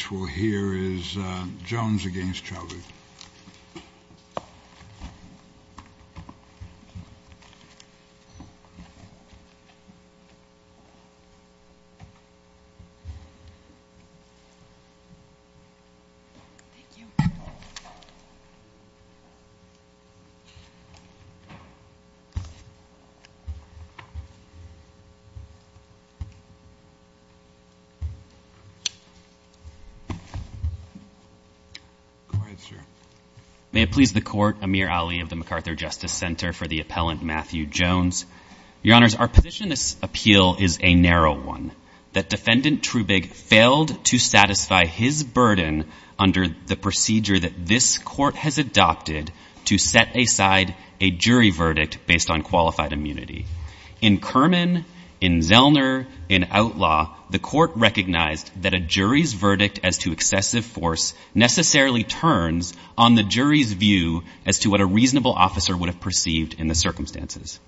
Next we'll hear is Jones v. Chaudhary May it please the Court, Amir Ali of the MacArthur Justice Center, for the appellant Matthew Jones. Your Honors, our position in this appeal is a narrow one. That Defendant Trubig failed to satisfy his burden under the procedure that this Court has adopted to set aside a jury verdict based on qualified immunity. In Kerman, in Zellner, in Outlaw, the Court recognized that a jury's verdict as to excessive force necessarily turns on the jury's view as to what a reasonable officer would have perceived in the circumstances.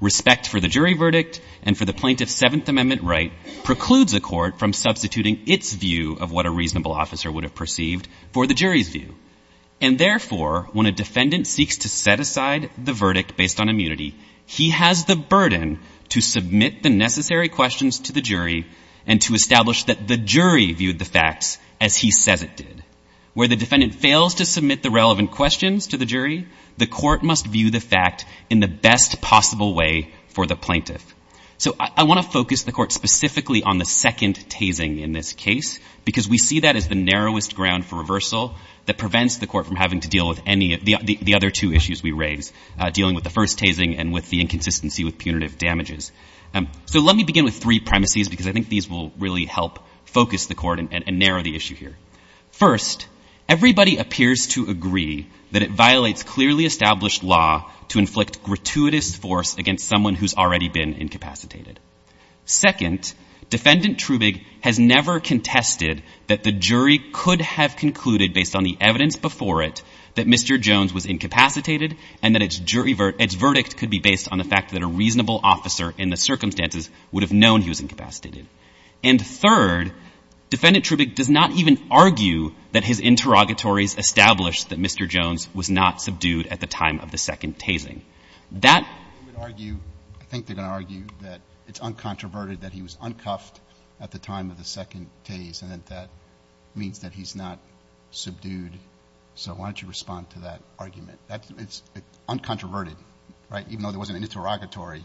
Respect for the jury verdict and for the plaintiff's Seventh Amendment right precludes a court from substituting its view of what a reasonable officer would have perceived for the jury's view. And therefore, when a defendant seeks to set aside the verdict based on immunity, he has the burden to submit the necessary questions to the jury and to establish that the jury viewed the facts as he says it did. Where the defendant fails to submit the relevant questions to the jury, the court must view the fact in the best possible way for the plaintiff. So I want to focus the Court specifically on the second tasing in this case because we see that as the narrowest ground for reversal that prevents the Court from having to deal with any of the other two issues we raise, dealing with the first tasing and with the inconsistency with punitive damages. So let me begin with three premises because I think these will really help focus the Court and narrow the issue here. First, everybody appears to agree that it violates clearly established law to inflict gratuitous force against someone who's already been incapacitated. Second, Defendant Trubig has never contested that the jury could have concluded based on the evidence before it that Mr. Jones was incapacitated and that its verdict could be based on the fact that a reasonable officer in the circumstances would have known he was incapacitated. And third, Defendant Trubig does not even argue that his interrogatories established that Mr. Jones was not subdued at the time of the second tasing. That argue, I think they're going to argue that it's uncontroverted that he was uncuffed at the time of the second tase and that that means that he's not subdued. So why don't you respond to that argument? It's uncontroverted, right? Even though there wasn't an interrogatory,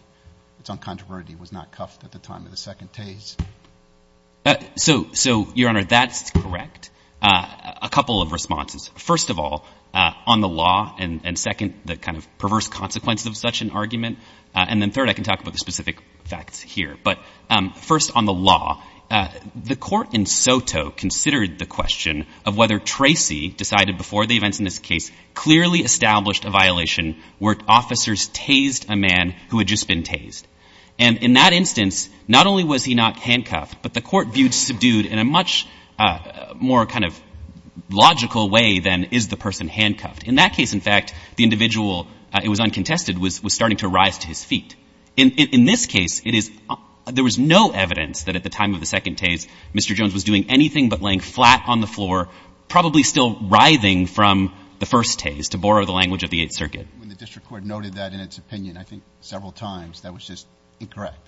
it's uncontroverted he was not cuffed at the time of the second tase. So, Your Honor, that's correct. A couple of responses. First of all, on the law, and second, the kind of perverse consequence of such an argument, and then third, I can talk about the specific facts here. But first on the law, the court in Soto considered the question of whether Tracy decided before the events in this case clearly established a violation where officers tased a man who had just been tased. And in that instance, not only was he not handcuffed, but the court viewed subdued in a much more kind of logical way than is the person handcuffed. In that case, in fact, the individual, it was uncontested, was starting to rise to his feet. In this case, it is — there was no evidence that at the time of the second tase, Mr. Jones was doing anything but laying flat on the floor, probably still writhing from the first tase, to borrow the language of the Eighth Circuit. When the district court noted that in its opinion, I think, several times, that was just incorrect.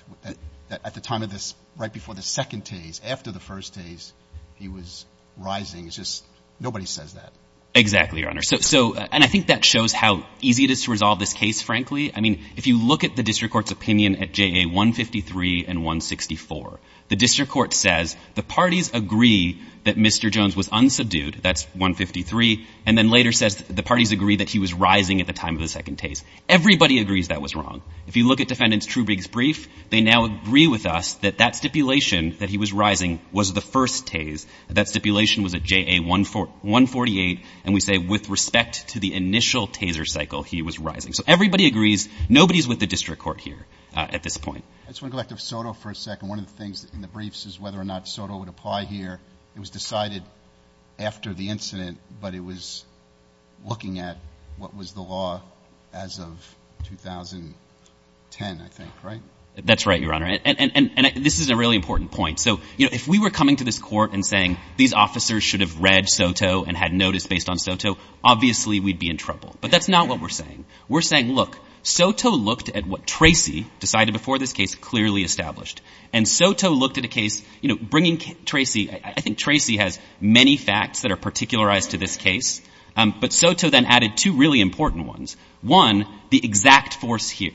At the time of this, right before the second tase, after the first tase, he was rising. It's just — nobody says that. Exactly, Your Honor. So — and I think that shows how easy it is to resolve this case, frankly. I mean, if you look at the district court's opinion at JA 153 and 164, the district court says the parties agree that Mr. Jones was unsubdued. That's 153. And then later says the parties agree that he was rising at the time of the second tase. Everybody agrees that was wrong. If you look at Defendant Trubrig's brief, they now agree with us that that stipulation, that he was rising, was the first tase. That stipulation was at JA 148. And we say with respect to the initial taser cycle, he was rising. So everybody agrees. Nobody is with the district court here at this point. I just want to go back to Soto for a second. One of the things in the briefs is whether or not Soto would apply here. It was decided after the incident, but it was looking at what was the law as of 2010, I think, right? That's right, Your Honor. And this is a really important point. So, you know, if we were coming to this court and saying these officers should have read Soto and had notice based on Soto, obviously we'd be in trouble. But that's not what we're saying. We're saying, look, Soto looked at what Tracy decided before this case clearly established. And Soto looked at a case, you know, bringing Tracy. I think Tracy has many facts that are particularized to this case. But Soto then added two really important ones. One, the exact force here,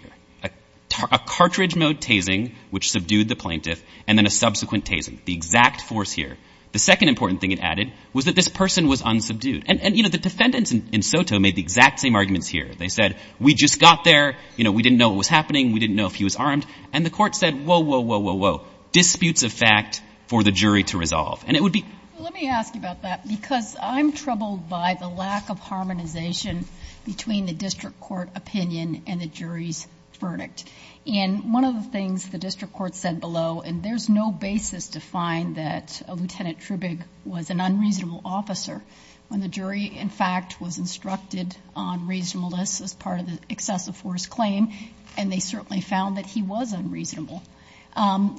a cartridge mode tasing, which subdued the plaintiff, and then a subsequent tasing, the exact force here. The second important thing it added was that this person was unsubdued. And, you know, the defendants in Soto made the exact same arguments here. They said, we just got there. You know, we didn't know what was happening. We didn't know if he was armed. And the court said, whoa, whoa, whoa, whoa, whoa, disputes of fact for the jury to resolve. And it would be – Let me ask you about that because I'm troubled by the lack of harmonization between the district court opinion and the jury's verdict. And one of the things the district court said below, and there's no basis to find that Lieutenant Trubig was an unreasonable officer, when the jury, in fact, was instructed on reasonableness as part of the excessive force claim, and they certainly found that he was unreasonable.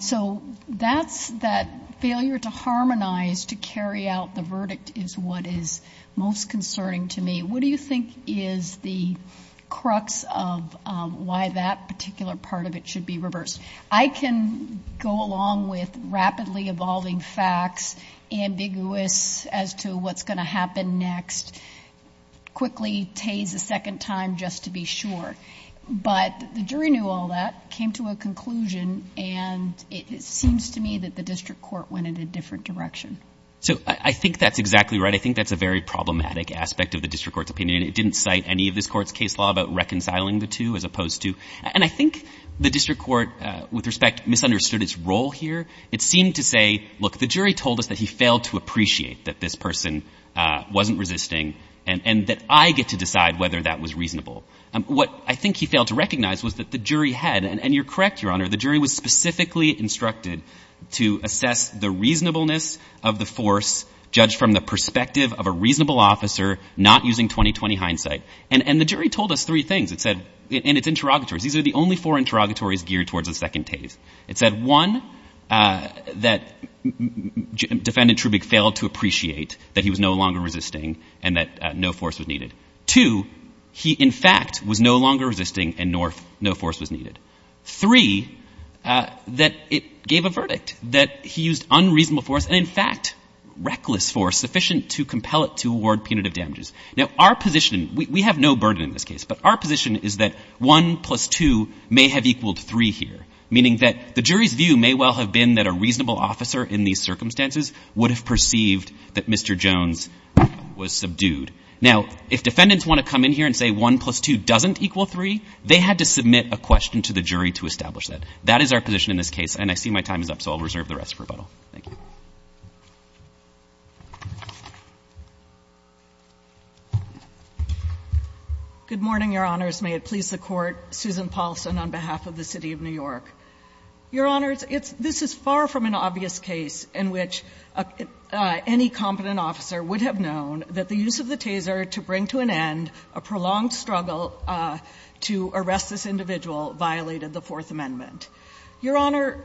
So that's that failure to harmonize, to carry out the verdict, is what is most concerning to me. What do you think is the crux of why that particular part of it should be reversed? I can go along with rapidly evolving facts, ambiguous as to what's going to happen next, quickly tase a second time just to be sure. But the jury knew all that, came to a conclusion, and it seems to me that the district court went in a different direction. So I think that's exactly right. I think that's a very problematic aspect of the district court's opinion. It didn't cite any of this court's case law about reconciling the two as opposed to – and I think the district court, with respect, misunderstood its role here. It seemed to say, look, the jury told us that he failed to appreciate that this person wasn't resisting and that I get to decide whether that was reasonable. What I think he failed to recognize was that the jury had – and you're correct, Your Honor. The jury was specifically instructed to assess the reasonableness of the force judged from the perspective of a reasonable officer not using 20-20 hindsight. And the jury told us three things. It said – and it's interrogatories. These are the only four interrogatories geared towards the second tase. It said, one, that Defendant Trubig failed to appreciate that he was no longer resisting and that no force was needed. Two, he, in fact, was no longer resisting and no force was needed. Three, that it gave a verdict that he used unreasonable force and, in fact, reckless force sufficient to compel it to award punitive damages. Now, our position – we have no burden in this case, but our position is that 1 plus 2 may have equaled 3 here, meaning that the jury's view may well have been that a reasonable officer in these circumstances would have perceived that Mr. Jones was subdued. Now, if defendants want to come in here and say 1 plus 2 doesn't equal 3, they had to submit a question to the jury to establish that. That is our position in this case, and I see my time is up, so I'll reserve the rest for rebuttal. Thank you. Good morning, Your Honors. May it please the Court. Susan Paulson on behalf of the City of New York. Your Honors, this is far from an obvious case in which any competent officer would have known that the use of the taser to bring to an end a prolonged struggle to arrest this individual violated the Fourth Amendment. Your Honor,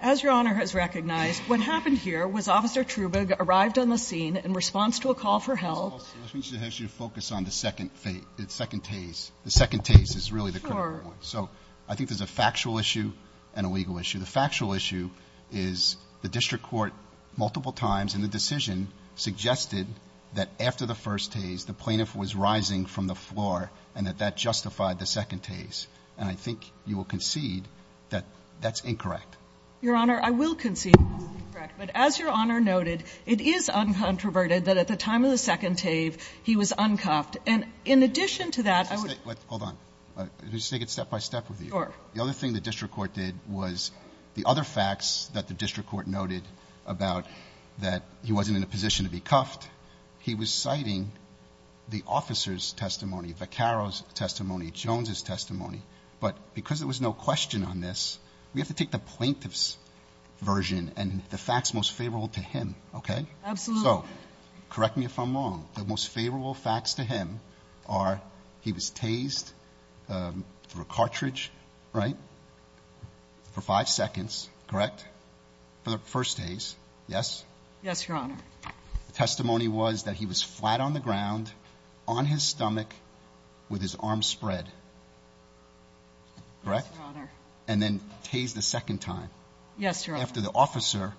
as Your Honor has recognized, what happened here was Officer Trubog arrived on the scene in response to a call for help. Ms. Paulson, let me just ask you to focus on the second phase, the second tase. The second tase is really the critical one. Sure. So I think there's a factual issue and a legal issue. The factual issue is the district court multiple times in the decision suggested that after the first tase, the plaintiff was rising from the floor and that that justified the second tase. And I think you will concede that that's incorrect. Your Honor, I will concede that's incorrect. But as Your Honor noted, it is uncontroverted that at the time of the second tase, he was uncuffed. And in addition to that, I would ---- Hold on. Let me just take it step by step with you. Sure. The other thing the district court did was the other facts that the district court noted about that he wasn't in a position to be cuffed, he was citing the officer's testimony, Jones's testimony. But because there was no question on this, we have to take the plaintiff's version and the facts most favorable to him, okay? Absolutely. So correct me if I'm wrong. The most favorable facts to him are he was tased through a cartridge, right, for five seconds, correct, for the first tase, yes? Yes, Your Honor. The testimony was that he was flat on the ground, on his stomach, with his arms spread, correct? Yes, Your Honor. And then tased a second time. Yes, Your Honor. After the officer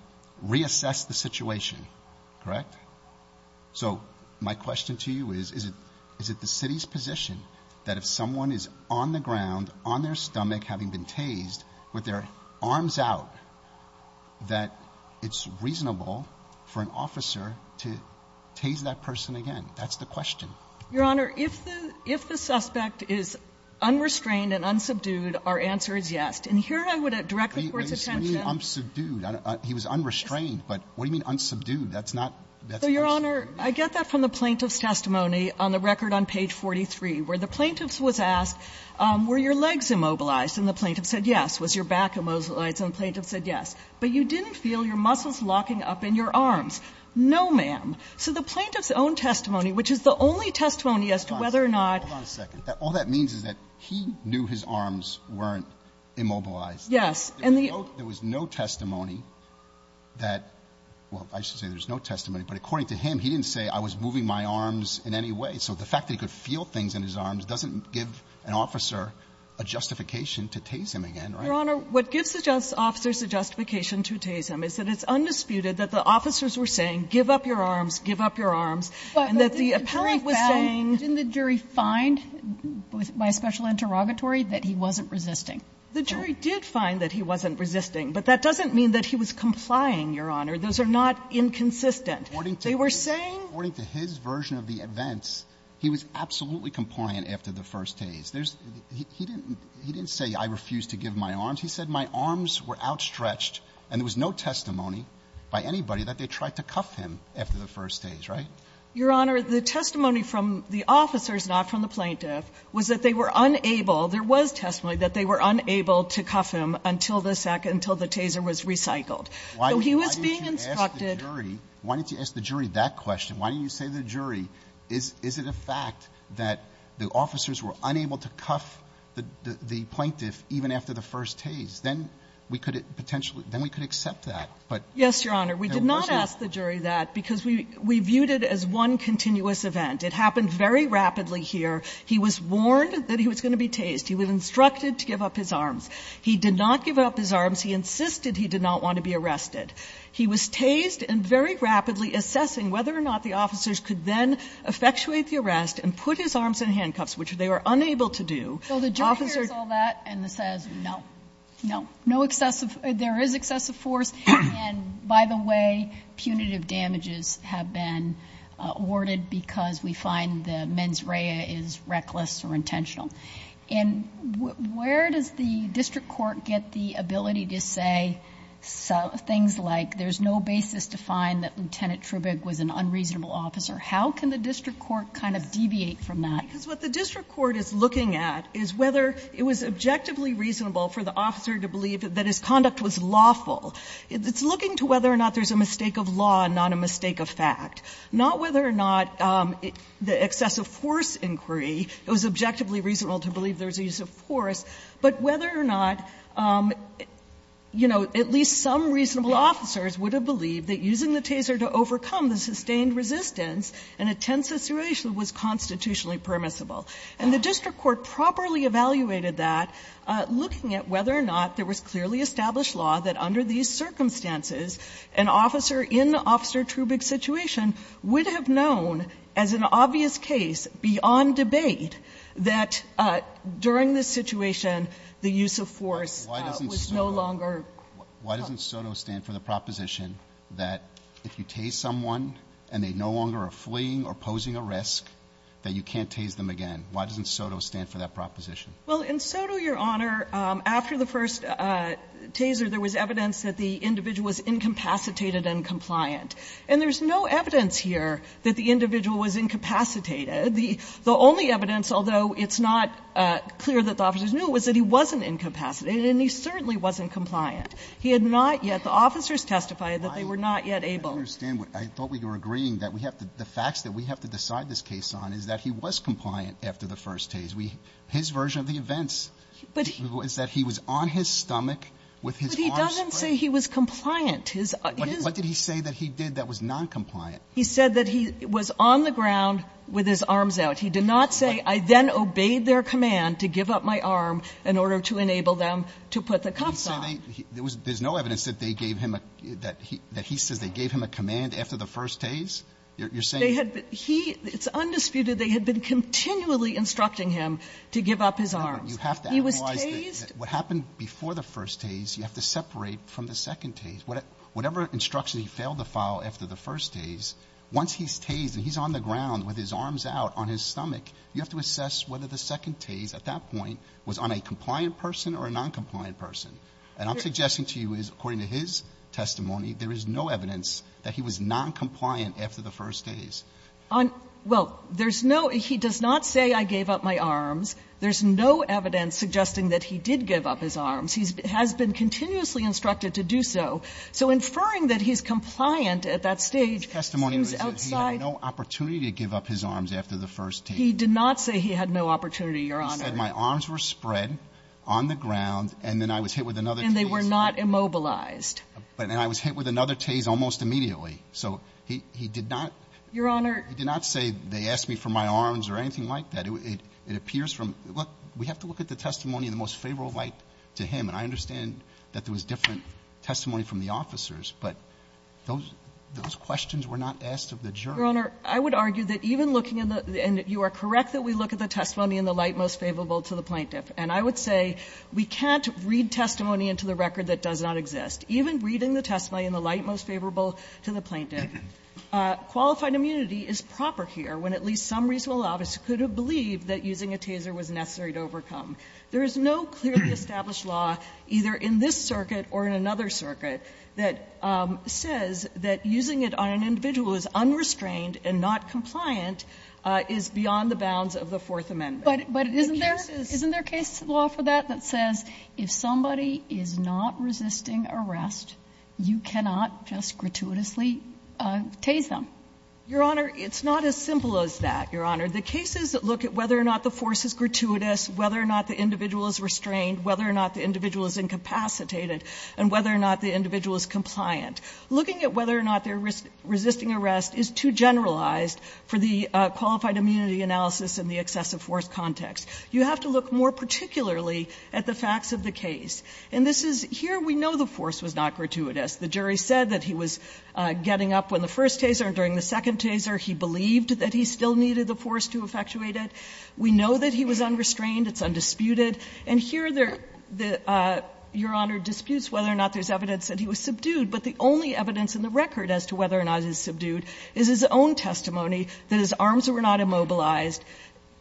reassessed the situation, correct? So my question to you is, is it the city's position that if someone is on the ground, on their stomach, having been tased, with their arms out, that it's reasonable for an officer to tase that person again? That's the question. Your Honor, if the suspect is unrestrained and unsubdued, our answer is yes. And here I would direct the Court's attention. What do you mean unsubdued? He was unrestrained, but what do you mean unsubdued? That's not the question. So, Your Honor, I get that from the plaintiff's testimony on the record on page 43, where the plaintiff was asked, were your legs immobilized? And the plaintiff said yes. Was your back immobilized? And the plaintiff said yes. But you didn't feel your muscles locking up in your arms. No, ma'am. So the plaintiff's own testimony, which is the only testimony as to whether or not Hold on a second. All that means is that he knew his arms weren't immobilized. Yes. And the There was no testimony that, well, I should say there was no testimony, but according to him, he didn't say I was moving my arms in any way. So the fact that he could feel things in his arms doesn't give an officer a justification to tase him again, right? Your Honor, what gives the officers a justification to tase him is that it's undisputed that the officers were saying, give up your arms, give up your arms, and that the appellant was saying But didn't the jury find, by special interrogatory, that he wasn't resisting? No. The jury did find that he wasn't resisting, but that doesn't mean that he was complying, Your Honor. Those are not inconsistent. They were saying According to his version of the events, he was absolutely compliant after the first case. He didn't say I refused to give him my arms. He said my arms were outstretched and there was no testimony by anybody that they tried to cuff him after the first case, right? Your Honor, the testimony from the officers, not from the plaintiff, was that they were unable, there was testimony that they were unable to cuff him until the second until the taser was recycled. So he was being instructed Why didn't you ask the jury, why didn't you ask the jury that question? Why didn't you say to the jury, is it a fact that the officers were unable to cuff the plaintiff even after the first tase? Then we could potentially, then we could accept that, but Yes, Your Honor. We did not ask the jury that because we viewed it as one continuous event. It happened very rapidly here. He was warned that he was going to be tased. He was instructed to give up his arms. He did not give up his arms. He insisted he did not want to be arrested. He was tased and very rapidly assessing whether or not the officers could then effectuate the arrest and put his arms in handcuffs, which they were unable to do. So the jury hears all that and says, no, no, no excessive, there is excessive force, and by the way, punitive damages have been awarded because we find the mens rea is reckless or intentional. And where does the district court get the ability to say things like there is no basis to find that Lieutenant Trubig was an unreasonable officer? How can the district court kind of deviate from that? Because what the district court is looking at is whether it was objectively reasonable for the officer to believe that his conduct was lawful. It's looking to whether or not there is a mistake of law and not a mistake of fact. Not whether or not the excessive force inquiry, it was objectively reasonable to believe there was a use of force, but whether or not, you know, at least some reasonable officers would have believed that using the taser to overcome the sustained resistance in a tense situation was constitutionally permissible. And the district court properly evaluated that, looking at whether or not there was clearly established law that under these circumstances, an officer in Officer Trubig's situation would have known as an obvious case beyond debate that during this situation, the use of force was no longer. Roberts. Why doesn't SOTO stand for the proposition that if you tase someone and they no longer are fleeing or posing a risk, that you can't tase them again? Why doesn't SOTO stand for that proposition? Well, in SOTO, Your Honor, after the first taser, there was evidence that the individual was incapacitated and compliant, and there's no evidence here that the individual was incapacitated. The only evidence, although it's not clear that the officers knew, was that he wasn't incapacitated and he certainly wasn't compliant. He had not yet the officers testified that they were not yet able. I don't understand. I thought we were agreeing that we have to the facts that we have to decide this case on is that he was compliant after the first tase. His version of the events was that he was on his stomach with his arms spread. He doesn't say he was compliant. What did he say that he did that was noncompliant? He said that he was on the ground with his arms out. He did not say, I then obeyed their command to give up my arm in order to enable them to put the cuffs on. There's no evidence that they gave him a ‑‑ that he says they gave him a command after the first tase? You're saying ‑‑ It's undisputed they had been continually instructing him to give up his arms. He was tased. What happened before the first tase, you have to separate from the second tase. Whatever instruction he failed to follow after the first tase, once he's tased and he's on the ground with his arms out on his stomach, you have to assess whether the second tase at that point was on a compliant person or a noncompliant person. And I'm suggesting to you is, according to his testimony, there is no evidence that he was noncompliant after the first tase. There's no evidence suggesting that he did give up his arms. He has been continuously instructed to do so. So inferring that he's compliant at that stage seems outside ‑‑ His testimony was that he had no opportunity to give up his arms after the first tase. He did not say he had no opportunity, Your Honor. He said my arms were spread on the ground and then I was hit with another tase. And they were not immobilized. And I was hit with another tase almost immediately. So he did not ‑‑ Your Honor ‑‑ He did not say they asked me for my arms or anything like that. It appears from ‑‑ look, we have to look at the testimony in the most favorable light to him. And I understand that there was different testimony from the officers, but those questions were not asked of the jury. Your Honor, I would argue that even looking in the ‑‑ and you are correct that we look at the testimony in the light most favorable to the plaintiff. And I would say we can't read testimony into the record that does not exist. Even reading the testimony in the light most favorable to the plaintiff, qualified immunity is proper here when at least some reasonable obvious could have believed that using a taser was necessary to overcome. There is no clearly established law either in this circuit or in another circuit that says that using it on an individual who is unrestrained and not compliant is beyond the bounds of the Fourth Amendment. But isn't there ‑‑ The case is ‑‑ Isn't there a case law for that that says if somebody is not resisting arrest, you cannot just gratuitously tase them? Your Honor, it's not as simple as that, Your Honor. The cases look at whether or not the force is gratuitous, whether or not the individual is restrained, whether or not the individual is incapacitated, and whether or not the individual is compliant. Looking at whether or not they are resisting arrest is too generalized for the qualified immunity analysis in the excessive force context. You have to look more particularly at the facts of the case. And this is ‑‑ here we know the force was not gratuitous. The jury said that he was getting up when the first taser and during the second taser, he believed that he still needed the force to effectuate it. We know that he was unrestrained. It's undisputed. And here the ‑‑ Your Honor, disputes whether or not there is evidence that he was subdued, but the only evidence in the record as to whether or not he was subdued is his own testimony that his arms were not immobilized,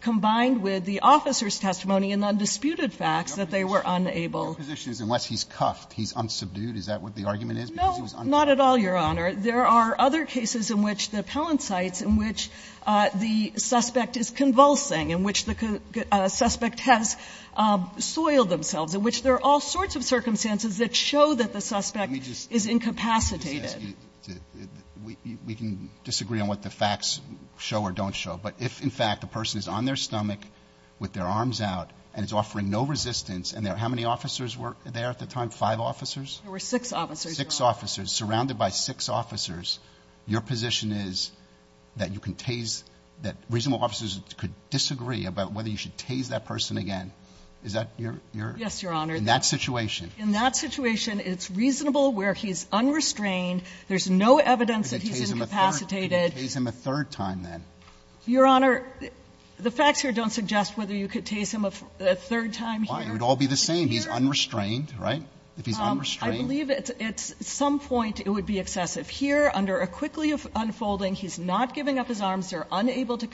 combined with the officer's testimony and undisputed facts that they were unable. Your position is unless he's cuffed, he's unsubdued? Is that what the argument is? Because he was unsubdued. No. Not at all, Your Honor. There are other cases in which the appellant cites in which the suspect is convulsing, in which the suspect has soiled themselves, in which there are all sorts of circumstances that show that the suspect is incapacitated. Let me just ask you. We can disagree on what the facts show or don't show. But if, in fact, the person is on their stomach with their arms out and is offering no resistance, and there are how many officers were there at the time? Five officers? There were six officers, Your Honor. Six officers. Surrounded by six officers. Your position is that you can tase ‑‑ that reasonable officers could disagree about whether you should tase that person again. Is that your ‑‑ Yes, Your Honor. In that situation? In that situation, it's reasonable where he's unrestrained, there's no evidence that he's incapacitated. You could tase him a third time then. Your Honor, the facts here don't suggest whether you could tase him a third time here. Why? It would all be the same. He's unrestrained, right? If he's unrestrained. I believe at some point it would be excessive. Here, under a quickly unfolding, he's not giving up his arms. They're unable to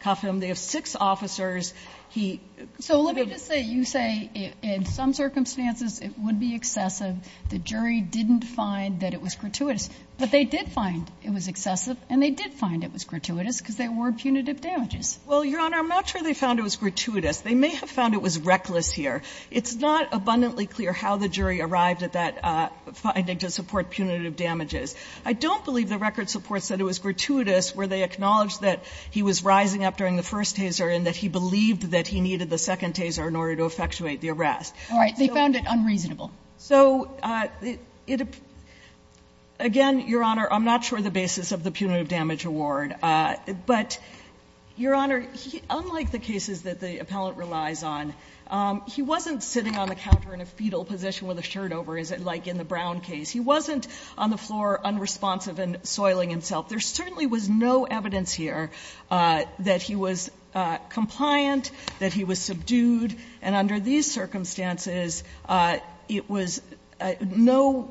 cuff him. They have six officers. He ‑‑ So let me just say, you say in some circumstances it would be excessive. The jury didn't find that it was gratuitous. But they did find it was excessive and they did find it was gratuitous because there were punitive damages. Well, Your Honor, I'm not sure they found it was gratuitous. They may have found it was reckless here. It's not abundantly clear how the jury arrived at that finding to support punitive damages. I don't believe the record supports that it was gratuitous where they acknowledged that he was rising up during the first taser and that he believed that he needed the second taser in order to effectuate the arrest. All right. They found it unreasonable. So, again, Your Honor, I'm not sure the basis of the punitive damage award. But, Your Honor, unlike the cases that the appellant relies on, he wasn't sitting on the counter in a fetal position with a shirt over, as like in the Brown case. He wasn't on the floor unresponsive and soiling himself. There certainly was no evidence here that he was compliant, that he was subdued. And under these circumstances, it was no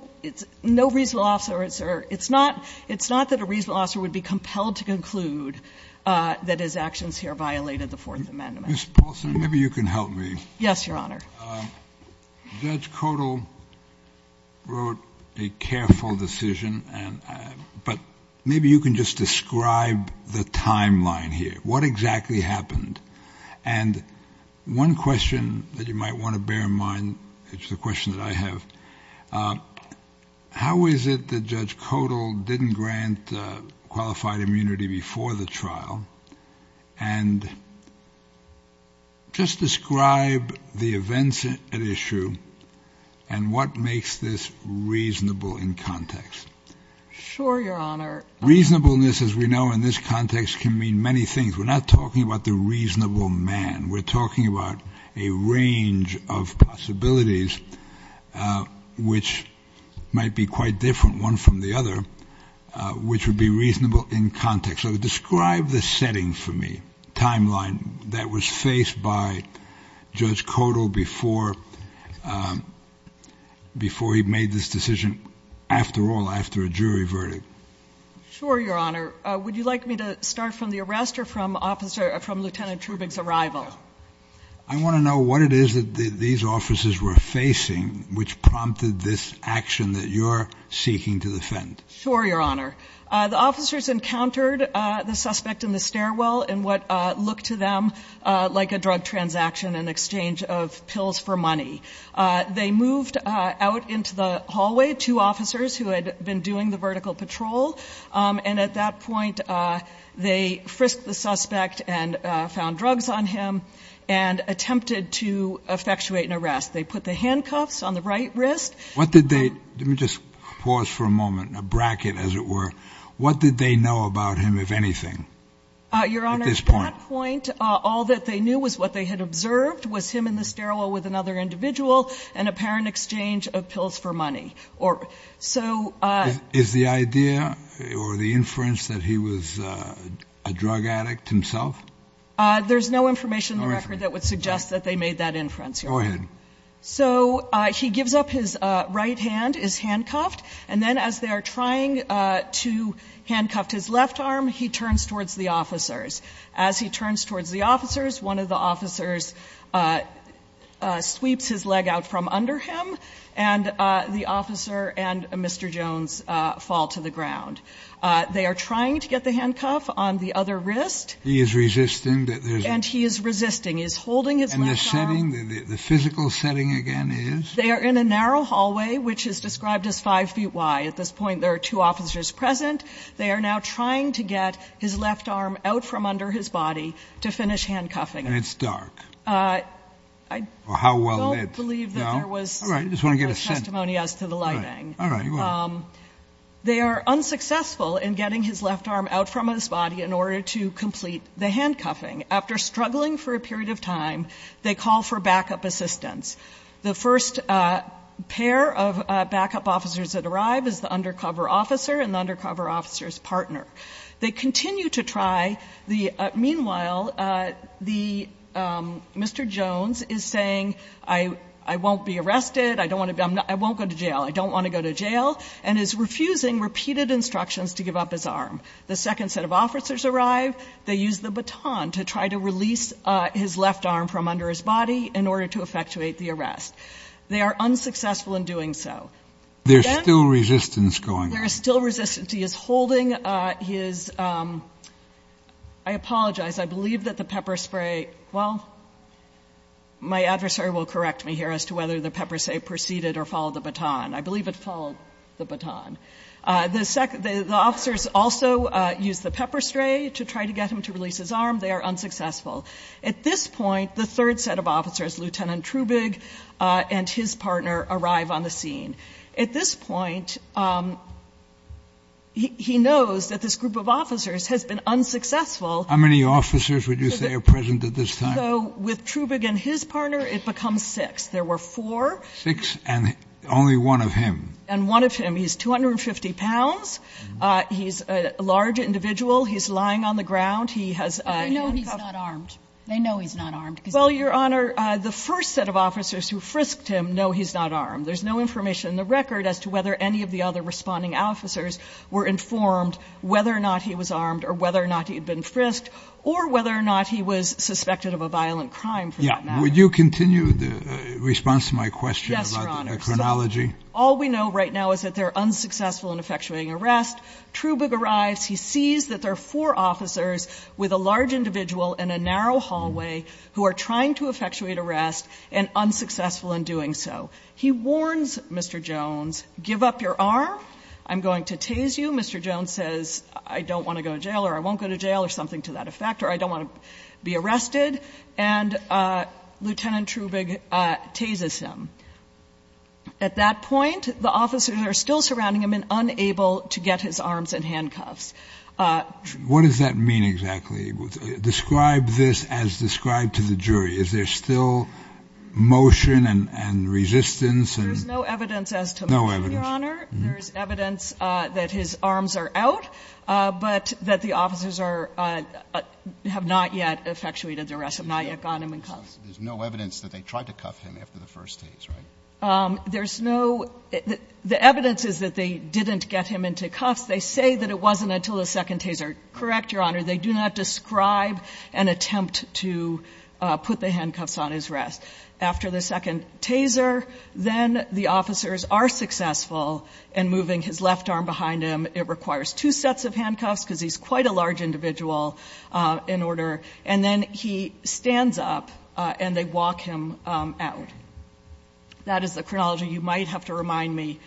reasonable officer. It's not that a reasonable officer would be compelled to conclude that his actions here violated the Fourth Amendment. Mr. Paulson, maybe you can help me. Yes, Your Honor. Judge Codall wrote a careful decision. But maybe you can just describe the timeline here. What exactly happened? And one question that you might want to bear in mind is the question that I have. How is it that Judge Codall didn't grant qualified immunity before the trial? And just describe the events at issue and what makes this reasonable in context. Sure, Your Honor. Reasonableness, as we know in this context, can mean many things. We're not talking about the reasonable man. We're talking about a range of possibilities which might be quite different, one from the other, which would be reasonable in context. So describe the setting for me, timeline, that was faced by Judge Codall before he made this decision, after all, after a jury verdict. Sure, Your Honor. Would you like me to start from the arrest or from Lieutenant Trubig's arrival? I want to know what it is that these officers were facing which prompted this action that you're seeking to defend. Sure, Your Honor. The officers encountered the suspect in the stairwell in what looked to them like a drug transaction in exchange of pills for money. They moved out into the hallway, two officers who had been doing the vertical patrol, and at that point they frisked the suspect and found drugs on him and attempted to effectuate an arrest. They put the handcuffs on the right wrist. Let me just pause for a moment, a bracket, as it were. What did they know about him, if anything, at this point? Your Honor, at that point, all that they knew was what they had observed was him in the stairwell with another individual in apparent exchange of pills for money. Is the idea or the inference that he was a drug addict himself? There's no information in the record that would suggest that they made that inference, Your Honor. Go ahead. So he gives up his right hand, is handcuffed, and then as they are trying to handcuff his left arm, he turns towards the officers. As he turns towards the officers, one of the officers sweeps his leg out from under him, and the officer and Mr. Jones fall to the ground. They are trying to get the handcuff on the other wrist. He is resisting that there's a ---- And he is resisting. He is holding his left arm. And the setting, the physical setting, again, is? They are in a narrow hallway, which is described as 5 feet wide. At this point, there are two officers present. They are now trying to get his left arm out from under his body to finish handcuffing him. And it's dark. I don't believe that there was such testimony as to the lighting. All right. Go ahead. They are unsuccessful in getting his left arm out from his body in order to complete the handcuffing. After struggling for a period of time, they call for backup assistance. The first pair of backup officers that arrive is the undercover officer and the undercover officer's partner. They continue to try. Meanwhile, Mr. Jones is saying, I won't be arrested, I won't go to jail, I don't want to go to jail, and is refusing repeated instructions to give up his arm. The second set of officers arrive. They use the baton to try to release his left arm from under his body in order to effectuate the arrest. They are unsuccessful in doing so. There is still resistance going on. There is still resistance. He is holding his, I apologize, I believe that the pepper spray, well, my adversary will correct me here as to whether the pepper spray proceeded or followed the baton. I believe it followed the baton. The officers also use the pepper spray to try to get him to release his arm. They are unsuccessful. At this point, the third set of officers, Lieutenant Trubig and his partner, arrive on the scene. At this point, he knows that this group of officers has been unsuccessful. How many officers would you say are present at this time? With Trubig and his partner, it becomes six. There were four. Six and only one of him. And one of him, he's 250 pounds. He's a large individual. He's lying on the ground. He has handcuffs. They know he's not armed. They know he's not armed. Well, Your Honor, the first set of officers who frisked him know he's not armed. There's no information in the record as to whether any of the other responding officers were informed whether or not he was armed or whether or not he had been frisked or whether or not he was suspected of a violent crime for that matter. Would you continue the response to my question about the chronology? All we know right now is that they're unsuccessful in effectuating arrest. Trubig arrives. He sees that there are four officers with a large individual in a narrow hallway who are trying to effectuate arrest and unsuccessful in doing so. He warns Mr. Jones, give up your arm. I'm going to tase you. Mr. Jones says, I don't want to go to jail or I won't go to jail or something to that effect or I don't want to be arrested. And Lieutenant Trubig tases him. At that point, the officers are still surrounding him and unable to get his arms and handcuffs. What does that mean exactly? Describe this as described to the jury. Is there still motion and resistance? There's no evidence as to that, Your Honor. There's evidence that his arms are out, but that the officers are – have not yet effectuated the arrest, have not yet gotten him in cuffs. There's no evidence that they tried to cuff him after the first tase, right? There's no – the evidence is that they didn't get him into cuffs. They say that it wasn't until the second taser. Correct, Your Honor. They do not describe an attempt to put the handcuffs on his wrist. After the second taser, then the officers are successful in moving his left arm behind him. It requires two sets of handcuffs because he's quite a large individual in order. And then he stands up and they walk him out. That is the chronology you might have to remind me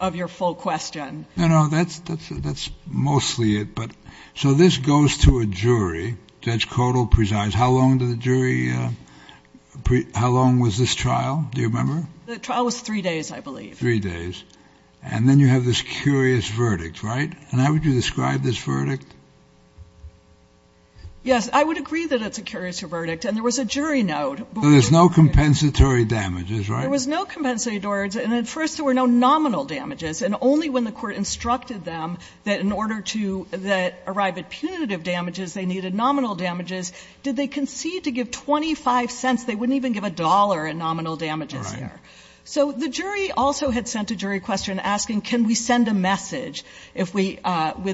of your full question. No, no. That's mostly it. So this goes to a jury. Judge Codall presides. How long did the jury – how long was this trial? Do you remember? The trial was three days, I believe. Three days. And then you have this curious verdict, right? And how would you describe this verdict? Yes, I would agree that it's a curious verdict. And there was a jury note. So there's no compensatory damages, right? There was no compensatory damages. And at first there were no nominal damages. And only when the court instructed them that in order to arrive at punitive damages, they needed nominal damages, did they concede to give 25 cents. They wouldn't even give a dollar in nominal damages. All right. So the jury also had sent a jury question asking can we send a message with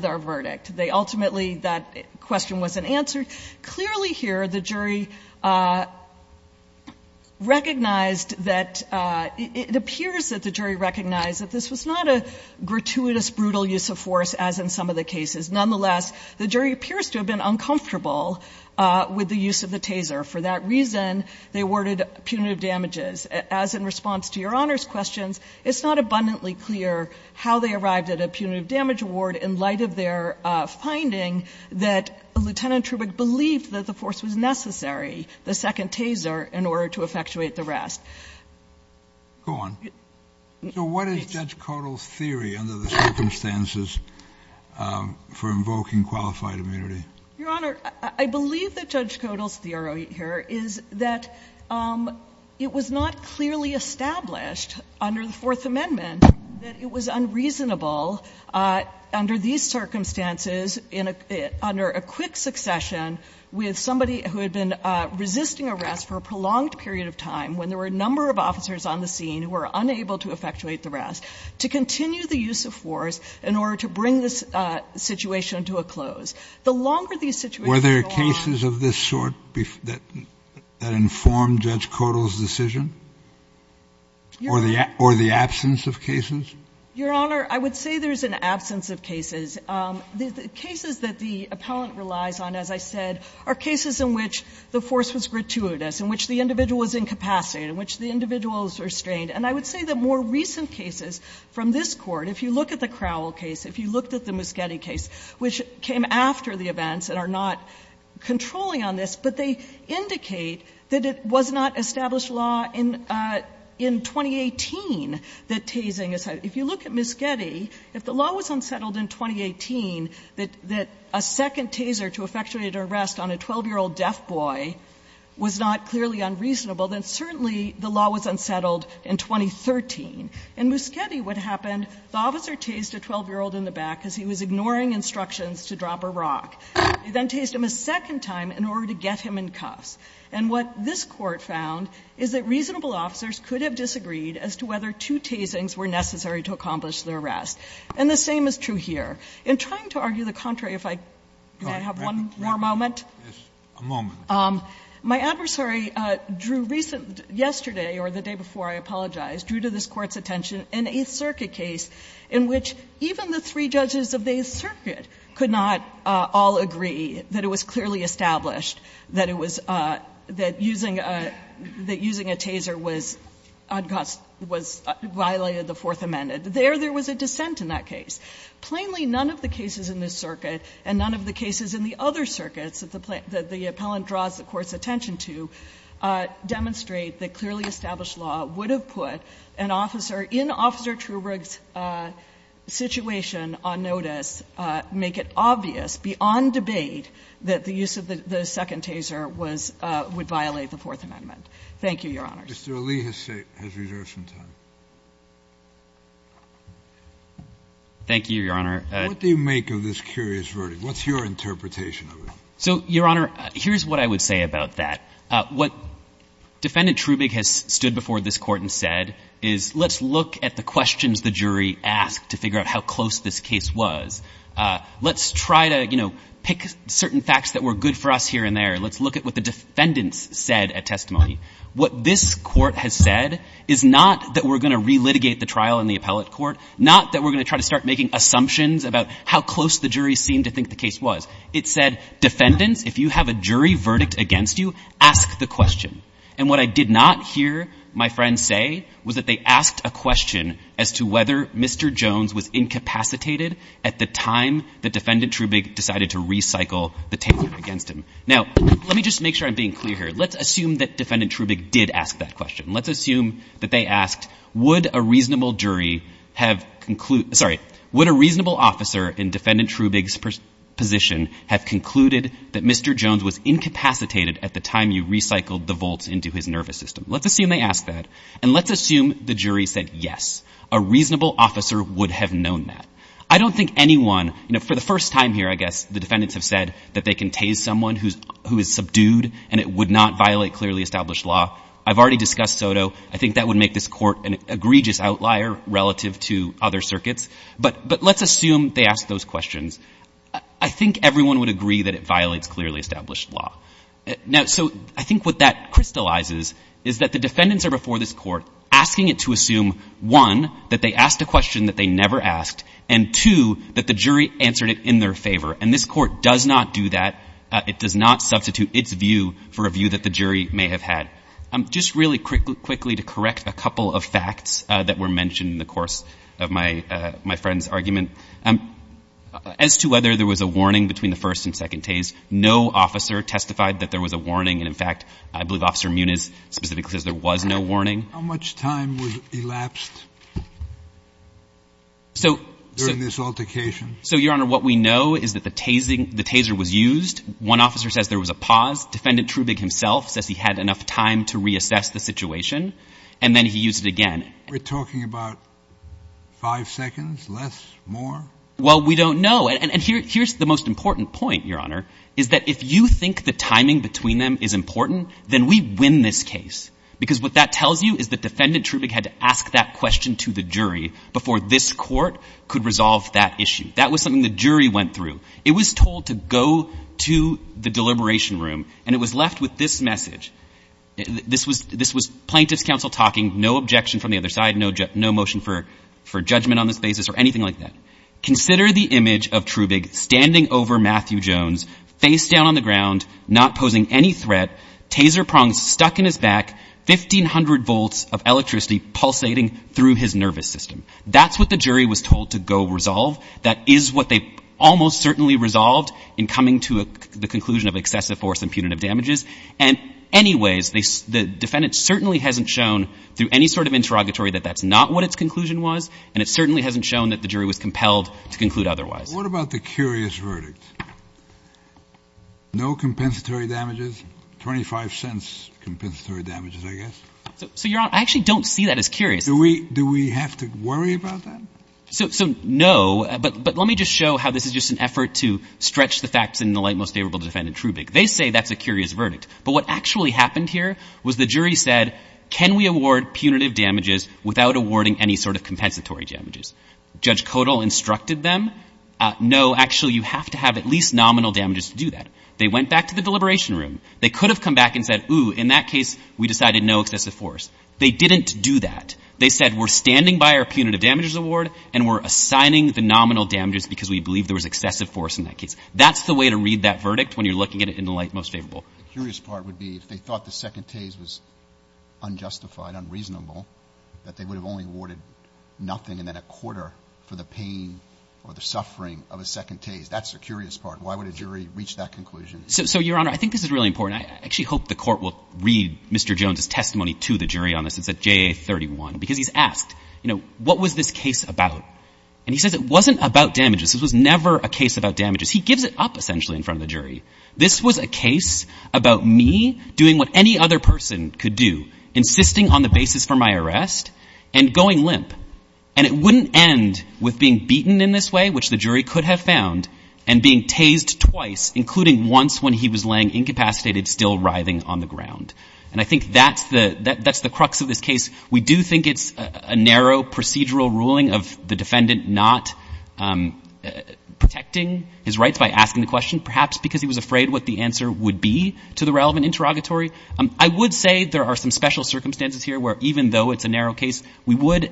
our verdict. They ultimately – that question wasn't answered. Clearly here, the jury recognized that – it appears that the jury recognized that this was not a gratuitous, brutal use of force as in some of the cases. Nonetheless, the jury appears to have been uncomfortable with the use of the taser. For that reason, they awarded punitive damages. As in response to Your Honor's questions, it's not abundantly clear how they arrived at a punitive damage award in light of their finding that Lieutenant Trubick believed that the force was necessary, the second taser, in order to effectuate the rest. Go on. So what is Judge Codall's theory under the circumstances for invoking qualified immunity? Your Honor, I believe that Judge Codall's theory here is that it was not clearly established under the Fourth Amendment that it was unreasonable under these circumstances in a – under a quick succession with somebody who had been resisting arrest for a prolonged period of time, when there were a number of officers on the scene who were unable to effectuate the rest, to continue the use of force in order to bring this situation to a close. The longer these situations go on – Judge Codall's decision, or the absence of cases? Your Honor, I would say there's an absence of cases. The cases that the appellant relies on, as I said, are cases in which the force was gratuitous, in which the individual was incapacitated, in which the individual was restrained. And I would say that more recent cases from this Court, if you look at the Crowell case, if you looked at the Muschietti case, which came after the events and are not established law in – in 2018, that tasing is – if you look at Muschietti, if the law was unsettled in 2018, that – that a second taser to effectuate arrest on a 12-year-old deaf boy was not clearly unreasonable, then certainly the law was unsettled in 2013. In Muschietti, what happened, the officer tased a 12-year-old in the back because he was ignoring instructions to drop a rock. He then tased him a second time in order to get him in cuffs. And what this Court found is that reasonable officers could have disagreed as to whether two tasings were necessary to accomplish the arrest. And the same is true here. In trying to argue the contrary, if I could have one more moment. Kennedy, yes, a moment. My adversary drew recent – yesterday or the day before, I apologize, drew to this Court's attention an Eighth Circuit case in which even the three judges of the Eighth Circuit argued that using a taser was – was violated the Fourth Amendment. There, there was a dissent in that case. Plainly, none of the cases in this circuit and none of the cases in the other circuits that the appellant draws the Court's attention to demonstrate that clearly established law would have put an officer in Officer Trubrig's situation on notice, make it obvious beyond debate that the use of the second taser was – would violate the Fourth Amendment. Thank you, Your Honor. Mr. Ali has reserved some time. Thank you, Your Honor. What do you make of this curious verdict? What's your interpretation of it? So, Your Honor, here's what I would say about that. What Defendant Trubrig has stood before this Court and said is let's look at the questions the jury asked to figure out how close this case was. Let's try to, you know, pick certain facts that were good for us here and there. Let's look at what the defendants said at testimony. What this Court has said is not that we're going to relitigate the trial in the appellate court, not that we're going to try to start making assumptions about how close the jury seemed to think the case was. It said, defendants, if you have a jury verdict against you, ask the question. And what I did not hear my friends say was that they asked a question as to whether Mr. Jones was incapacitated at the time that Defendant Trubrig decided to recycle the table against him. Now, let me just make sure I'm being clear here. Let's assume that Defendant Trubrig did ask that question. Let's assume that they asked, would a reasonable jury have—sorry, would a reasonable officer in Defendant Trubrig's position have concluded that Mr. Jones was incapacitated at the time you recycled the vaults into his nervous system? Let's assume they asked that, and let's assume the jury said yes. A reasonable officer would have known that. I don't think anyone—you know, for the first time here, I guess, the defendants have said that they can tase someone who is subdued and it would not violate clearly established law. I've already discussed SOTO. I think that would make this Court an egregious outlier relative to other circuits. But let's assume they asked those questions. I think everyone would agree that it violates clearly established law. Now, so I think what that crystallizes is that the defendants are before this Court asking it to assume, one, that they asked a question that they never asked, and, two, that the jury answered it in their favor. And this Court does not do that. It does not substitute its view for a view that the jury may have had. Just really quickly to correct a couple of facts that were mentioned in the course of my friend's argument, as to whether there was a warning between the first and second tase, no officer testified that there was a warning. And, in fact, I believe Officer Muniz specifically says there was no warning. How much time was elapsed during this altercation? So, Your Honor, what we know is that the taser was used. One officer says there was a pause. Defendant Trubig himself says he had enough time to reassess the situation. And then he used it again. We're talking about five seconds? Less? More? Well, we don't know. And here's the most important point, Your Honor, is that if you think the timing between them is important, then we win this case. Because what that tells you is that Defendant Trubig had to ask that question to the jury before this Court could resolve that issue. That was something the jury went through. It was told to go to the deliberation room, and it was left with this message. This was plaintiff's counsel talking, no objection from the other side, no motion for judgment on this basis or anything like that. Consider the image of Trubig standing over Matthew Jones, face down on the ground, not posing any threat, taser prongs stuck in his back, 1,500 volts of electricity pulsating through his nervous system. That's what the jury was told to go resolve. That is what they almost certainly resolved in coming to the conclusion of excessive force and punitive damages. And anyways, the defendant certainly hasn't shown through any sort of interrogatory that that's not what its conclusion was, and it certainly hasn't shown that the jury was compelled to conclude otherwise. What about the curious verdict? No compensatory damages, 25 cents compensatory damages, I guess. So, Your Honor, I actually don't see that as curious. Do we have to worry about that? So, no, but let me just show how this is just an effort to stretch the facts in the light most favorable to Defendant Trubig. They say that's a curious verdict. But what actually happened here was the jury said, can we award punitive damages without awarding any sort of compensatory damages? Judge Codall instructed them, no, actually, you have to have at least nominal damages to do that. They went back to the deliberation room. They could have come back and said, ooh, in that case, we decided no excessive force. They didn't do that. They said, we're standing by our punitive damages award and we're assigning the nominal damages because we believe there was excessive force in that case. That's the way to read that verdict when you're looking at it in the light most The curious part would be if they thought the second case was unjustified, unreasonable, that they would have only awarded nothing and then a quarter for the pain or the suffering of a second case. That's the curious part. Why would a jury reach that conclusion? So, Your Honor, I think this is really important. I actually hope the Court will read Mr. Jones' testimony to the jury on this. It's at JA-31 because he's asked, you know, what was this case about? And he says it wasn't about damages. This was never a case about damages. He gives it up essentially in front of the jury. This was a case about me doing what any other person could do, insisting on the basis for my arrest and going limp. And it wouldn't end with being beaten in this way, which the jury could have found, and being tased twice, including once when he was laying incapacitated, still writhing on the ground. And I think that's the crux of this case. We do think it's a narrow procedural ruling of the defendant not protecting his rights by asking the question, perhaps because he was afraid what the answer would be to the relevant interrogatory. I would say there are some special circumstances here where even though it's a narrow case, we would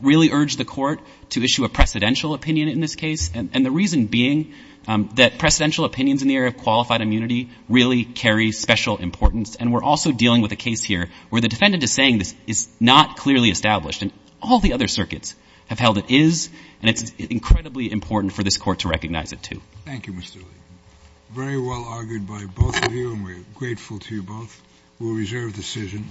really urge the Court to issue a precedential opinion in this case, and the reason being that precedential opinions in the area of qualified immunity really carry special importance. And we're also dealing with a case here where the defendant is saying this is not clearly established, and all the other circuits have held it is, and it's incredibly important for this Court to recognize it, too. Thank you, Mr. Lee. Very well argued by both of you, and we're grateful to you both. We'll reserve decision.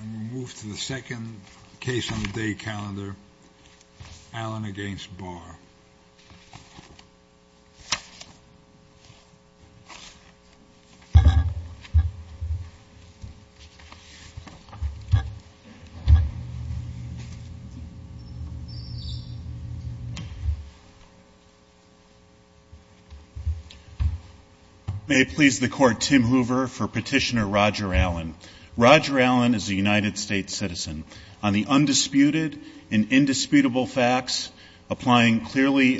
And we'll move to the second case on the day calendar, Allen against Barr. May it please the Court, Tim Hoover for Petitioner Roger Allen. Roger Allen is a United States citizen. On the undisputed and indisputable facts applying clearly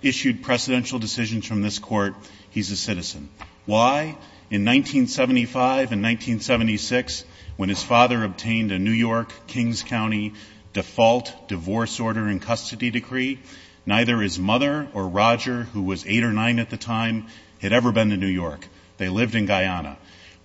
issued precedential decisions from this Court, he's a citizen. Why? In 1975 and 1976, when his father obtained a New York, Kings County default divorce order and custody decree, neither his mother or Roger, who was 8 or 9 at the time, had ever been to New York. They lived in Guyana.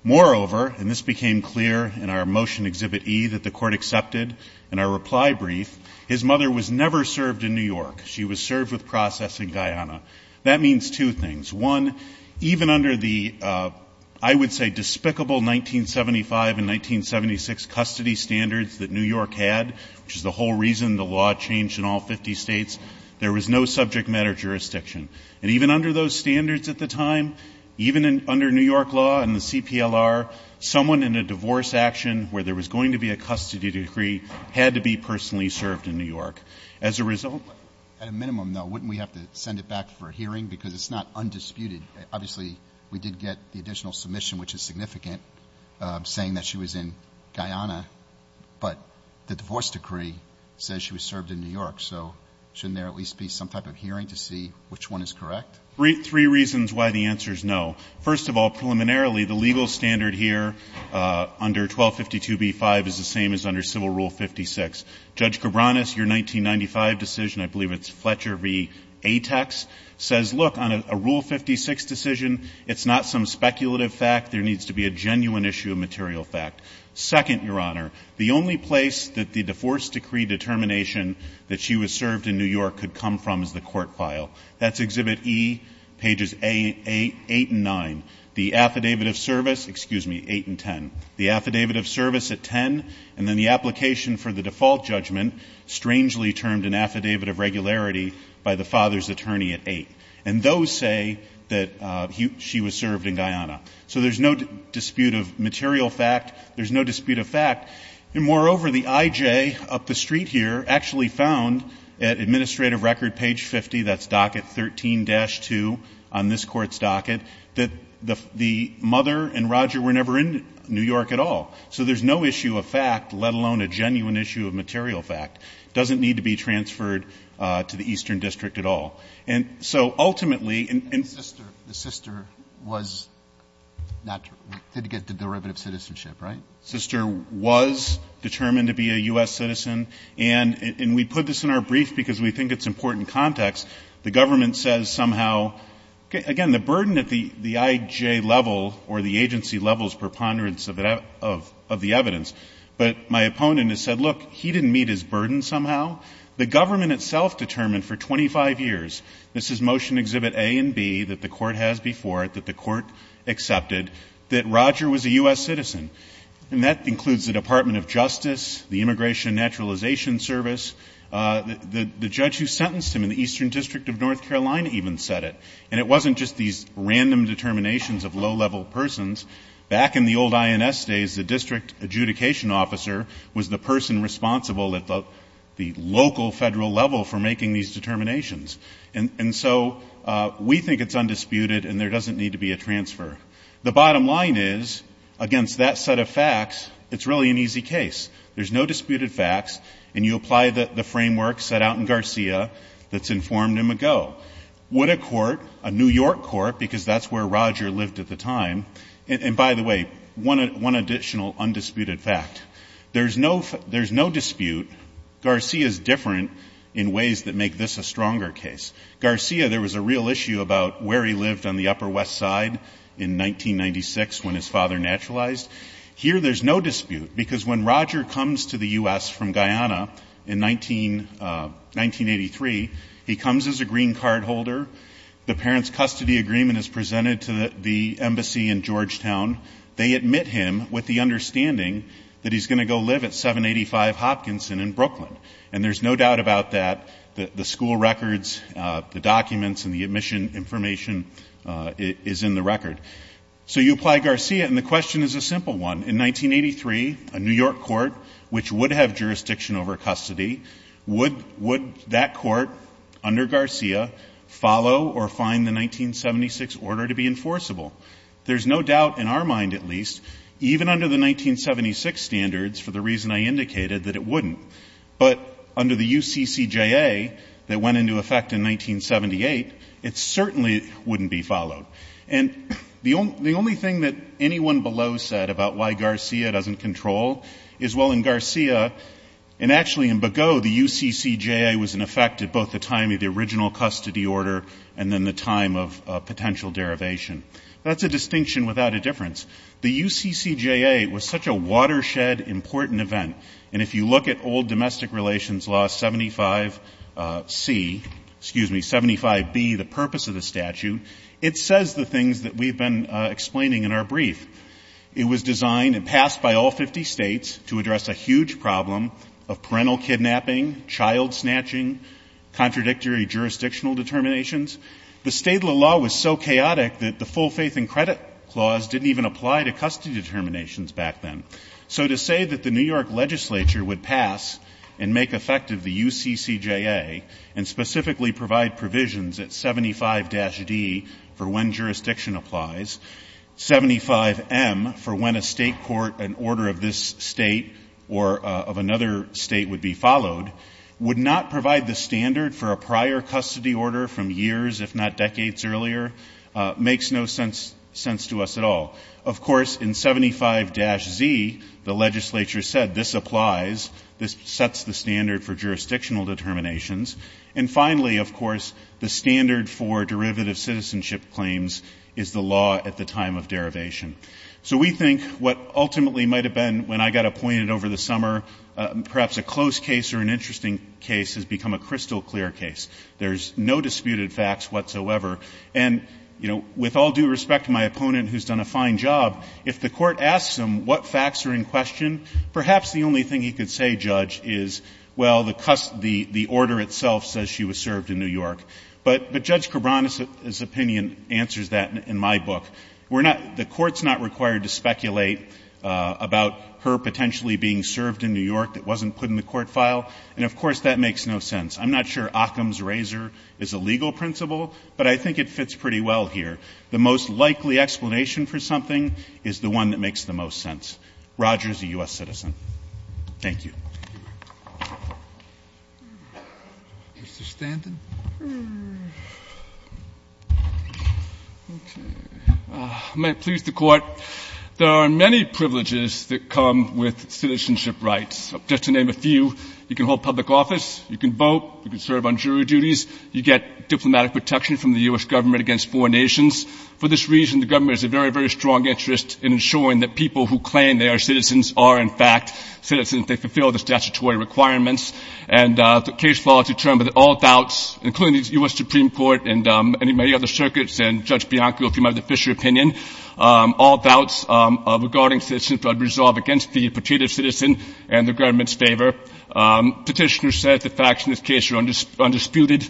Moreover, and this became clear in our Motion Exhibit E that the Court accepted in our reply brief, his mother was never served in New York. She was served with process in Guyana. That means two things. One, even under the, I would say, despicable 1975 and 1976 custody standards that New York had, which is the whole reason the law changed in all 50 states, there was no subject matter jurisdiction. And even under those standards at the time, even under New York law and the CPLR, someone in a divorce action where there was going to be a custody decree had to be personally served in New York. As a result of that. At a minimum, though, wouldn't we have to send it back for a hearing? Because it's not undisputed. Obviously, we did get the additional submission, which is significant, saying that she was in Guyana, but the divorce decree says she was served in New York. So shouldn't there at least be some type of hearing to see which one is correct? Three reasons why the answer is no. First of all, preliminarily, the legal standard here under 1252b-5 is the same as under Civil Rule 56. Judge Cabranes, your 1995 decision, I believe it's Fletcher v. Atex, says, look, on a Rule 56 decision, it's not some speculative fact. There needs to be a genuine issue of material fact. Second, Your Honor, the only place that the divorce decree determination that she was served in New York could come from is the court file. That's Exhibit E, pages 8 and 9. The affidavit of service, excuse me, 8 and 10. The affidavit of service at 10, and then the application for the default judgment, strangely termed an affidavit of regularity by the father's attorney at 8. And those say that she was served in Guyana. So there's no dispute of material fact. There's no dispute of fact. And moreover, the I.J. up the street here actually found at Administrative Record page 50, that's docket 13-2 on this Court's docket, that the mother and Roger were never in New York at all. So there's no issue of fact, let alone a genuine issue of material fact. It doesn't need to be transferred to the Eastern District at all. And so ultimately, and the sister was not to get the derivative citizenship, right? Sister was determined to be a U.S. citizen. And we put this in our brief because we think it's important context. The government says somehow, again, the burden at the I.J. level or the agency level's preponderance of the evidence, but my opponent has said, look, he didn't meet his burden somehow. The government itself determined for 25 years, this is Motion Exhibit A and B that the Court has before it, that the Court accepted, that Roger was a U.S. citizen. And that includes the Department of Justice, the Immigration Naturalization Service. The judge who sentenced him in the Eastern District of North Carolina even said it. And it wasn't just these random determinations of low-level persons. Back in the old INS days, the district adjudication officer was the person responsible at the local federal level for making these determinations. And so we think it's undisputed and there doesn't need to be a transfer. The bottom line is, against that set of facts, it's really an easy case. There's no disputed facts. And you apply the framework set out in Garcia that's informed him ago. Would a court, a New York court, because that's where Roger lived at the time, and by the way, one additional undisputed fact. There's no dispute. Garcia's different in ways that make this a stronger case. Garcia, there was a real issue about where he lived on the Upper West Side in 1996 when his father naturalized. Here there's no dispute because when Roger comes to the U.S. from Guyana in 1983, he comes as a green card holder. The parents' custody agreement is presented to the embassy in Georgetown. They admit him with the understanding that he's going to go live at 785 Hopkinson in Brooklyn. And there's no doubt about that. The school records, the documents, and the admission information is in the record. So you apply Garcia, and the question is a simple one. In 1983, a New York court, which would have jurisdiction over custody, would that court under Garcia follow or find the 1976 order to be enforceable? There's no doubt in our mind, at least, even under the 1976 standards, for the reason I indicated, that it wouldn't. But under the UCCJA that went into effect in 1978, it certainly wouldn't be followed. And the only thing that anyone below said about why Garcia doesn't control is, well, in Garcia, and actually in Begaud, the UCCJA was in effect at both the time of the original custody order and then the time of potential derivation. That's a distinction without a difference. The UCCJA was such a watershed, important event. And if you look at old domestic relations law 75C, excuse me, 75B, the purpose of the statute, it says the things that we've been explaining in our brief. It was designed and passed by all 50 states to address a huge problem of parental kidnapping, child snatching, contradictory jurisdictional determinations. The state law was so chaotic that the full faith and credit clause didn't even apply to custody determinations back then. So to say that the New York legislature would pass and make effective the UCCJA and specifically provide provisions at 75-D for when jurisdiction applies, 75M for when a state court, an order of this state or of another state would be years, if not decades earlier, makes no sense to us at all. Of course, in 75-Z, the legislature said this applies, this sets the standard for jurisdictional determinations. And finally, of course, the standard for derivative citizenship claims is the law at the time of derivation. So we think what ultimately might have been, when I got appointed over the summer, perhaps a close case or an interesting case has become a crystal clear case. There's no disputed facts whatsoever. And, you know, with all due respect to my opponent who's done a fine job, if the Court asks him what facts are in question, perhaps the only thing he could say, Judge, is, well, the order itself says she was served in New York. But Judge Cabran's opinion answers that in my book. We're not – the Court's not required to speculate about her potentially being served in New York that wasn't put in the court file. And, of course, that makes no sense. I'm not sure Occam's razor is a legal principle, but I think it fits pretty well here. The most likely explanation for something is the one that makes the most sense. Roger is a U.S. citizen. Thank you. Mr. Stanton? Okay. May it please the Court, there are many privileges that come with citizenship rights. Just to name a few. You can hold public office. You can vote. You can serve on jury duties. You get diplomatic protection from the U.S. government against foreign nations. For this reason, the government has a very, very strong interest in ensuring that people who claim they are citizens are, in fact, citizens. They fulfill the statutory requirements. And the case law determines that all doubts, including the U.S. Supreme Court and many, many other circuits and Judge Bianco, if you remember the Fisher opinion, all doubts regarding citizenship are resolved against the reputed citizen and the government's favor. Petitioner said the facts in this case are undisputed.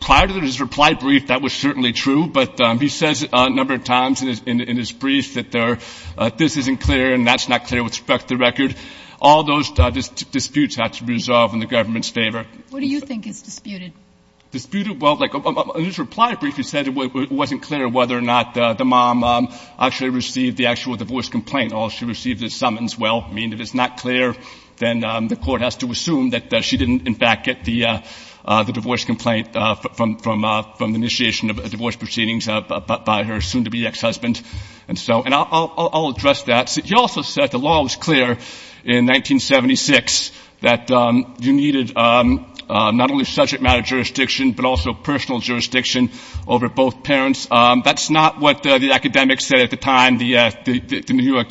Prior to his reply brief, that was certainly true, but he says a number of times in his brief that this isn't clear and that's not clear with respect to the record. All those disputes have to be resolved in the government's favor. What do you think is disputed? Disputed? Well, in his reply brief, he said it wasn't clear whether or not the mom actually received the actual divorce complaint. All she received is summons. Well, I mean, if it's not clear, then the court has to assume that she didn't, in fact, get the divorce complaint from the initiation of divorce proceedings by her soon-to-be ex-husband. And I'll address that. He also said the law was clear in 1976 that you needed not only subject matter jurisdiction but also personal jurisdiction over both parents. That's not what the academics said at the time the New York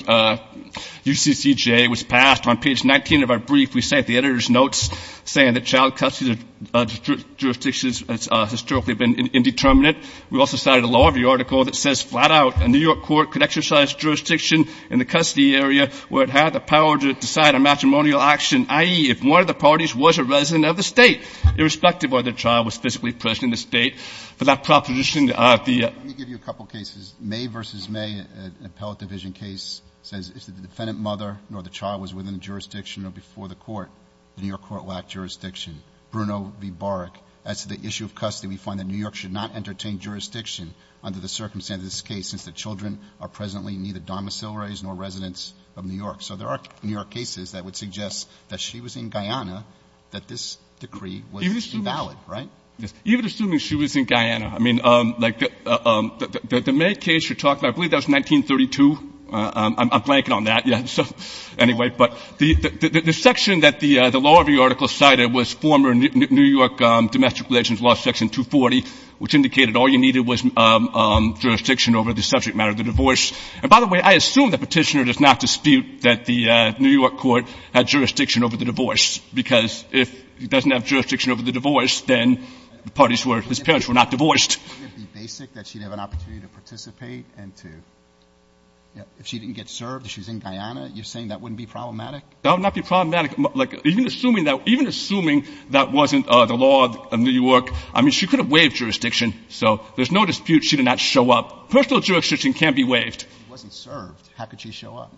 UCCJ was passed. On page 19 of our brief, we cite the editor's notes saying that child custody jurisdictions has historically been indeterminate. We also cited a law review article that says flat out a New York court could exercise jurisdiction in the custody area where it had the power to decide on matrimonial action, i.e., if one of the parties was a resident of the state, irrespective of whether the child was physically present in the state. For that proposition, the ---- Breyer. Let me give you a couple of cases. May v. May, an appellate division case, says if the defendant mother nor the child was within jurisdiction or before the court, the New York court lacked jurisdiction. Bruno v. Baric, as to the issue of custody, we find that New York should not entertain jurisdiction under the circumstances of this case since the children are presently neither domiciliaries nor residents of New York. So there are New York cases that would suggest that she was in Guyana, that this decree was invalid, right? Yes. Even assuming she was in Guyana. I mean, like the May case you're talking about, I believe that was 1932. I'm blanking on that yet. So anyway, but the section that the law review article cited was former New York domestic relations law section 240, which indicated all you needed was jurisdiction over the subject matter of the divorce. And by the way, I assume the petitioner does not dispute that the New York court had jurisdiction over the divorce because if it doesn't have jurisdiction over the divorce, the parties were, his parents were not divorced. Wouldn't it be basic that she'd have an opportunity to participate and to, if she didn't get served, if she's in Guyana, you're saying that wouldn't be problematic? That would not be problematic. Like, even assuming that, even assuming that wasn't the law of New York, I mean, she could have waived jurisdiction. So there's no dispute she did not show up. Personal jurisdiction can't be waived. She wasn't served. How could she show up?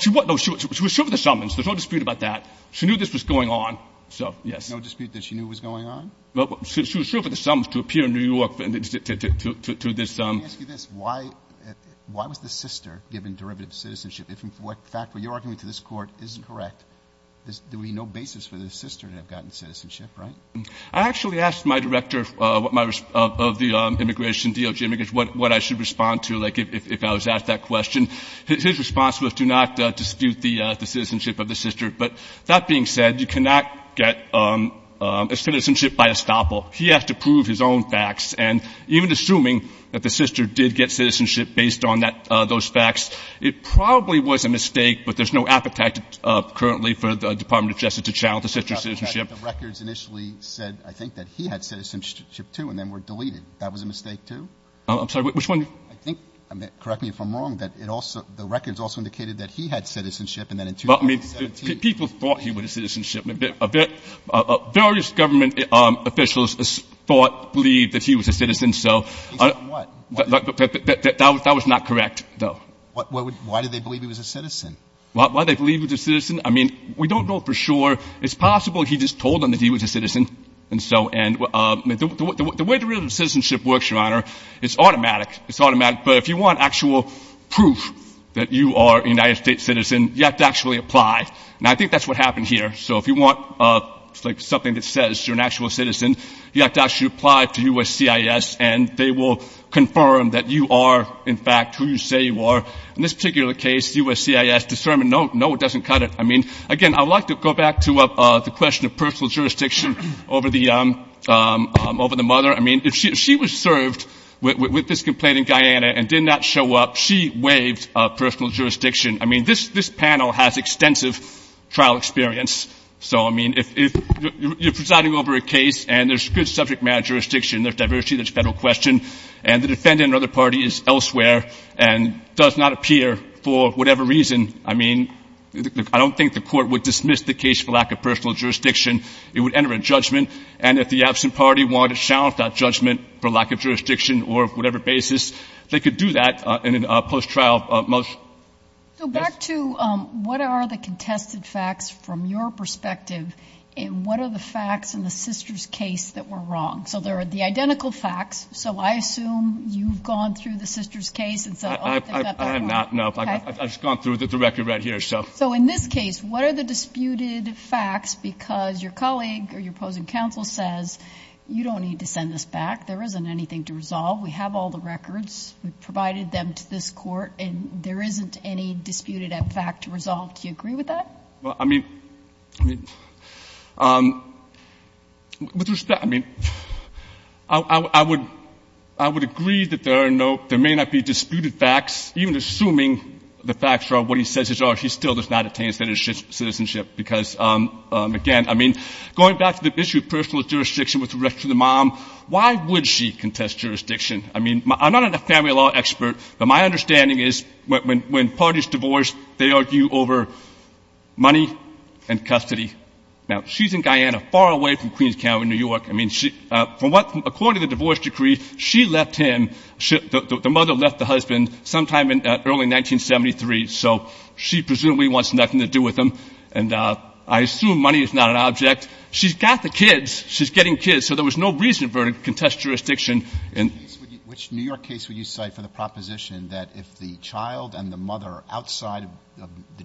She was served the summons. There's no dispute about that. She knew this was going on. So, yes. There's no dispute that she knew it was going on? Well, she was served the summons to appear in New York to this. Let me ask you this. Why was the sister given derivative citizenship? If in fact what you're arguing to this Court is correct, there would be no basis for the sister to have gotten citizenship, right? I actually asked my director of the immigration, DOJ immigration, what I should respond to, like, if I was asked that question. His response was do not dispute the citizenship of the sister. But that being said, you cannot get citizenship by estoppel. He has to prove his own facts. And even assuming that the sister did get citizenship based on those facts, it probably was a mistake, but there's no appetite currently for the Department of Justice to challenge the sister's citizenship. The records initially said, I think, that he had citizenship, too, and then were deleted. That was a mistake, too? I'm sorry. Which one? I think, correct me if I'm wrong, that the records also indicated that he had citizenship and then in 2017. Well, I mean, people thought he would have citizenship. Various government officials thought, believed that he was a citizen, so. Based on what? That was not correct, though. Why did they believe he was a citizen? Why did they believe he was a citizen? I mean, we don't know for sure. It's possible he just told them that he was a citizen, and so. And the way derivative citizenship works, Your Honor, it's automatic. It's automatic. But if you want actual proof that you are a United States citizen, you have to actually apply. And I think that's what happened here. So if you want something that says you're an actual citizen, you have to actually apply to USCIS, and they will confirm that you are, in fact, who you say you are. In this particular case, USCIS determined, no, it doesn't cut it. I mean, again, I would like to go back to the question of personal jurisdiction over the mother. I mean, if she was served with this complaint in Guyana and did not show up, she waived personal jurisdiction. I mean, this panel has extensive trial experience. So, I mean, if you're presiding over a case and there's good subject matter jurisdiction, there's diversity, there's federal question, and the defendant or other party is elsewhere and does not appear for whatever reason, I mean, I don't think the court would dismiss the case for lack of personal jurisdiction. It would enter a judgment. And if the absent party wanted to challenge that judgment for lack of jurisdiction or whatever basis, they could do that in a post-trial motion. So back to what are the contested facts from your perspective, and what are the facts in the sister's case that were wrong? So there are the identical facts. So I assume you've gone through the sister's case. I have not, no. I've just gone through the record right here, so. So in this case, what are the disputed facts because your colleague or your opposing counsel says, you don't need to send this back. There isn't anything to resolve. We have all the records. We've provided them to this Court, and there isn't any disputed fact to resolve. Do you agree with that? Well, I mean, with respect, I mean, I would agree that there are no, there may not be disputed facts, even assuming the facts are what he says are. He still does not attain citizenship because, again, I mean, going back to the issue of personal jurisdiction with respect to the mom, why would she contest jurisdiction? I mean, I'm not a family law expert, but my understanding is when parties divorce, they argue over money and custody. Now, she's in Guyana, far away from Queens County, New York. I mean, according to the divorce decree, she left him, the mother left the husband sometime in early 1973, so she presumably wants nothing to do with him. And I assume money is not an object. She's got the kids. She's getting kids. So there was no reason for her to contest jurisdiction. Which New York case would you cite for the proposition that if the child and the mother are outside of the jurisdiction?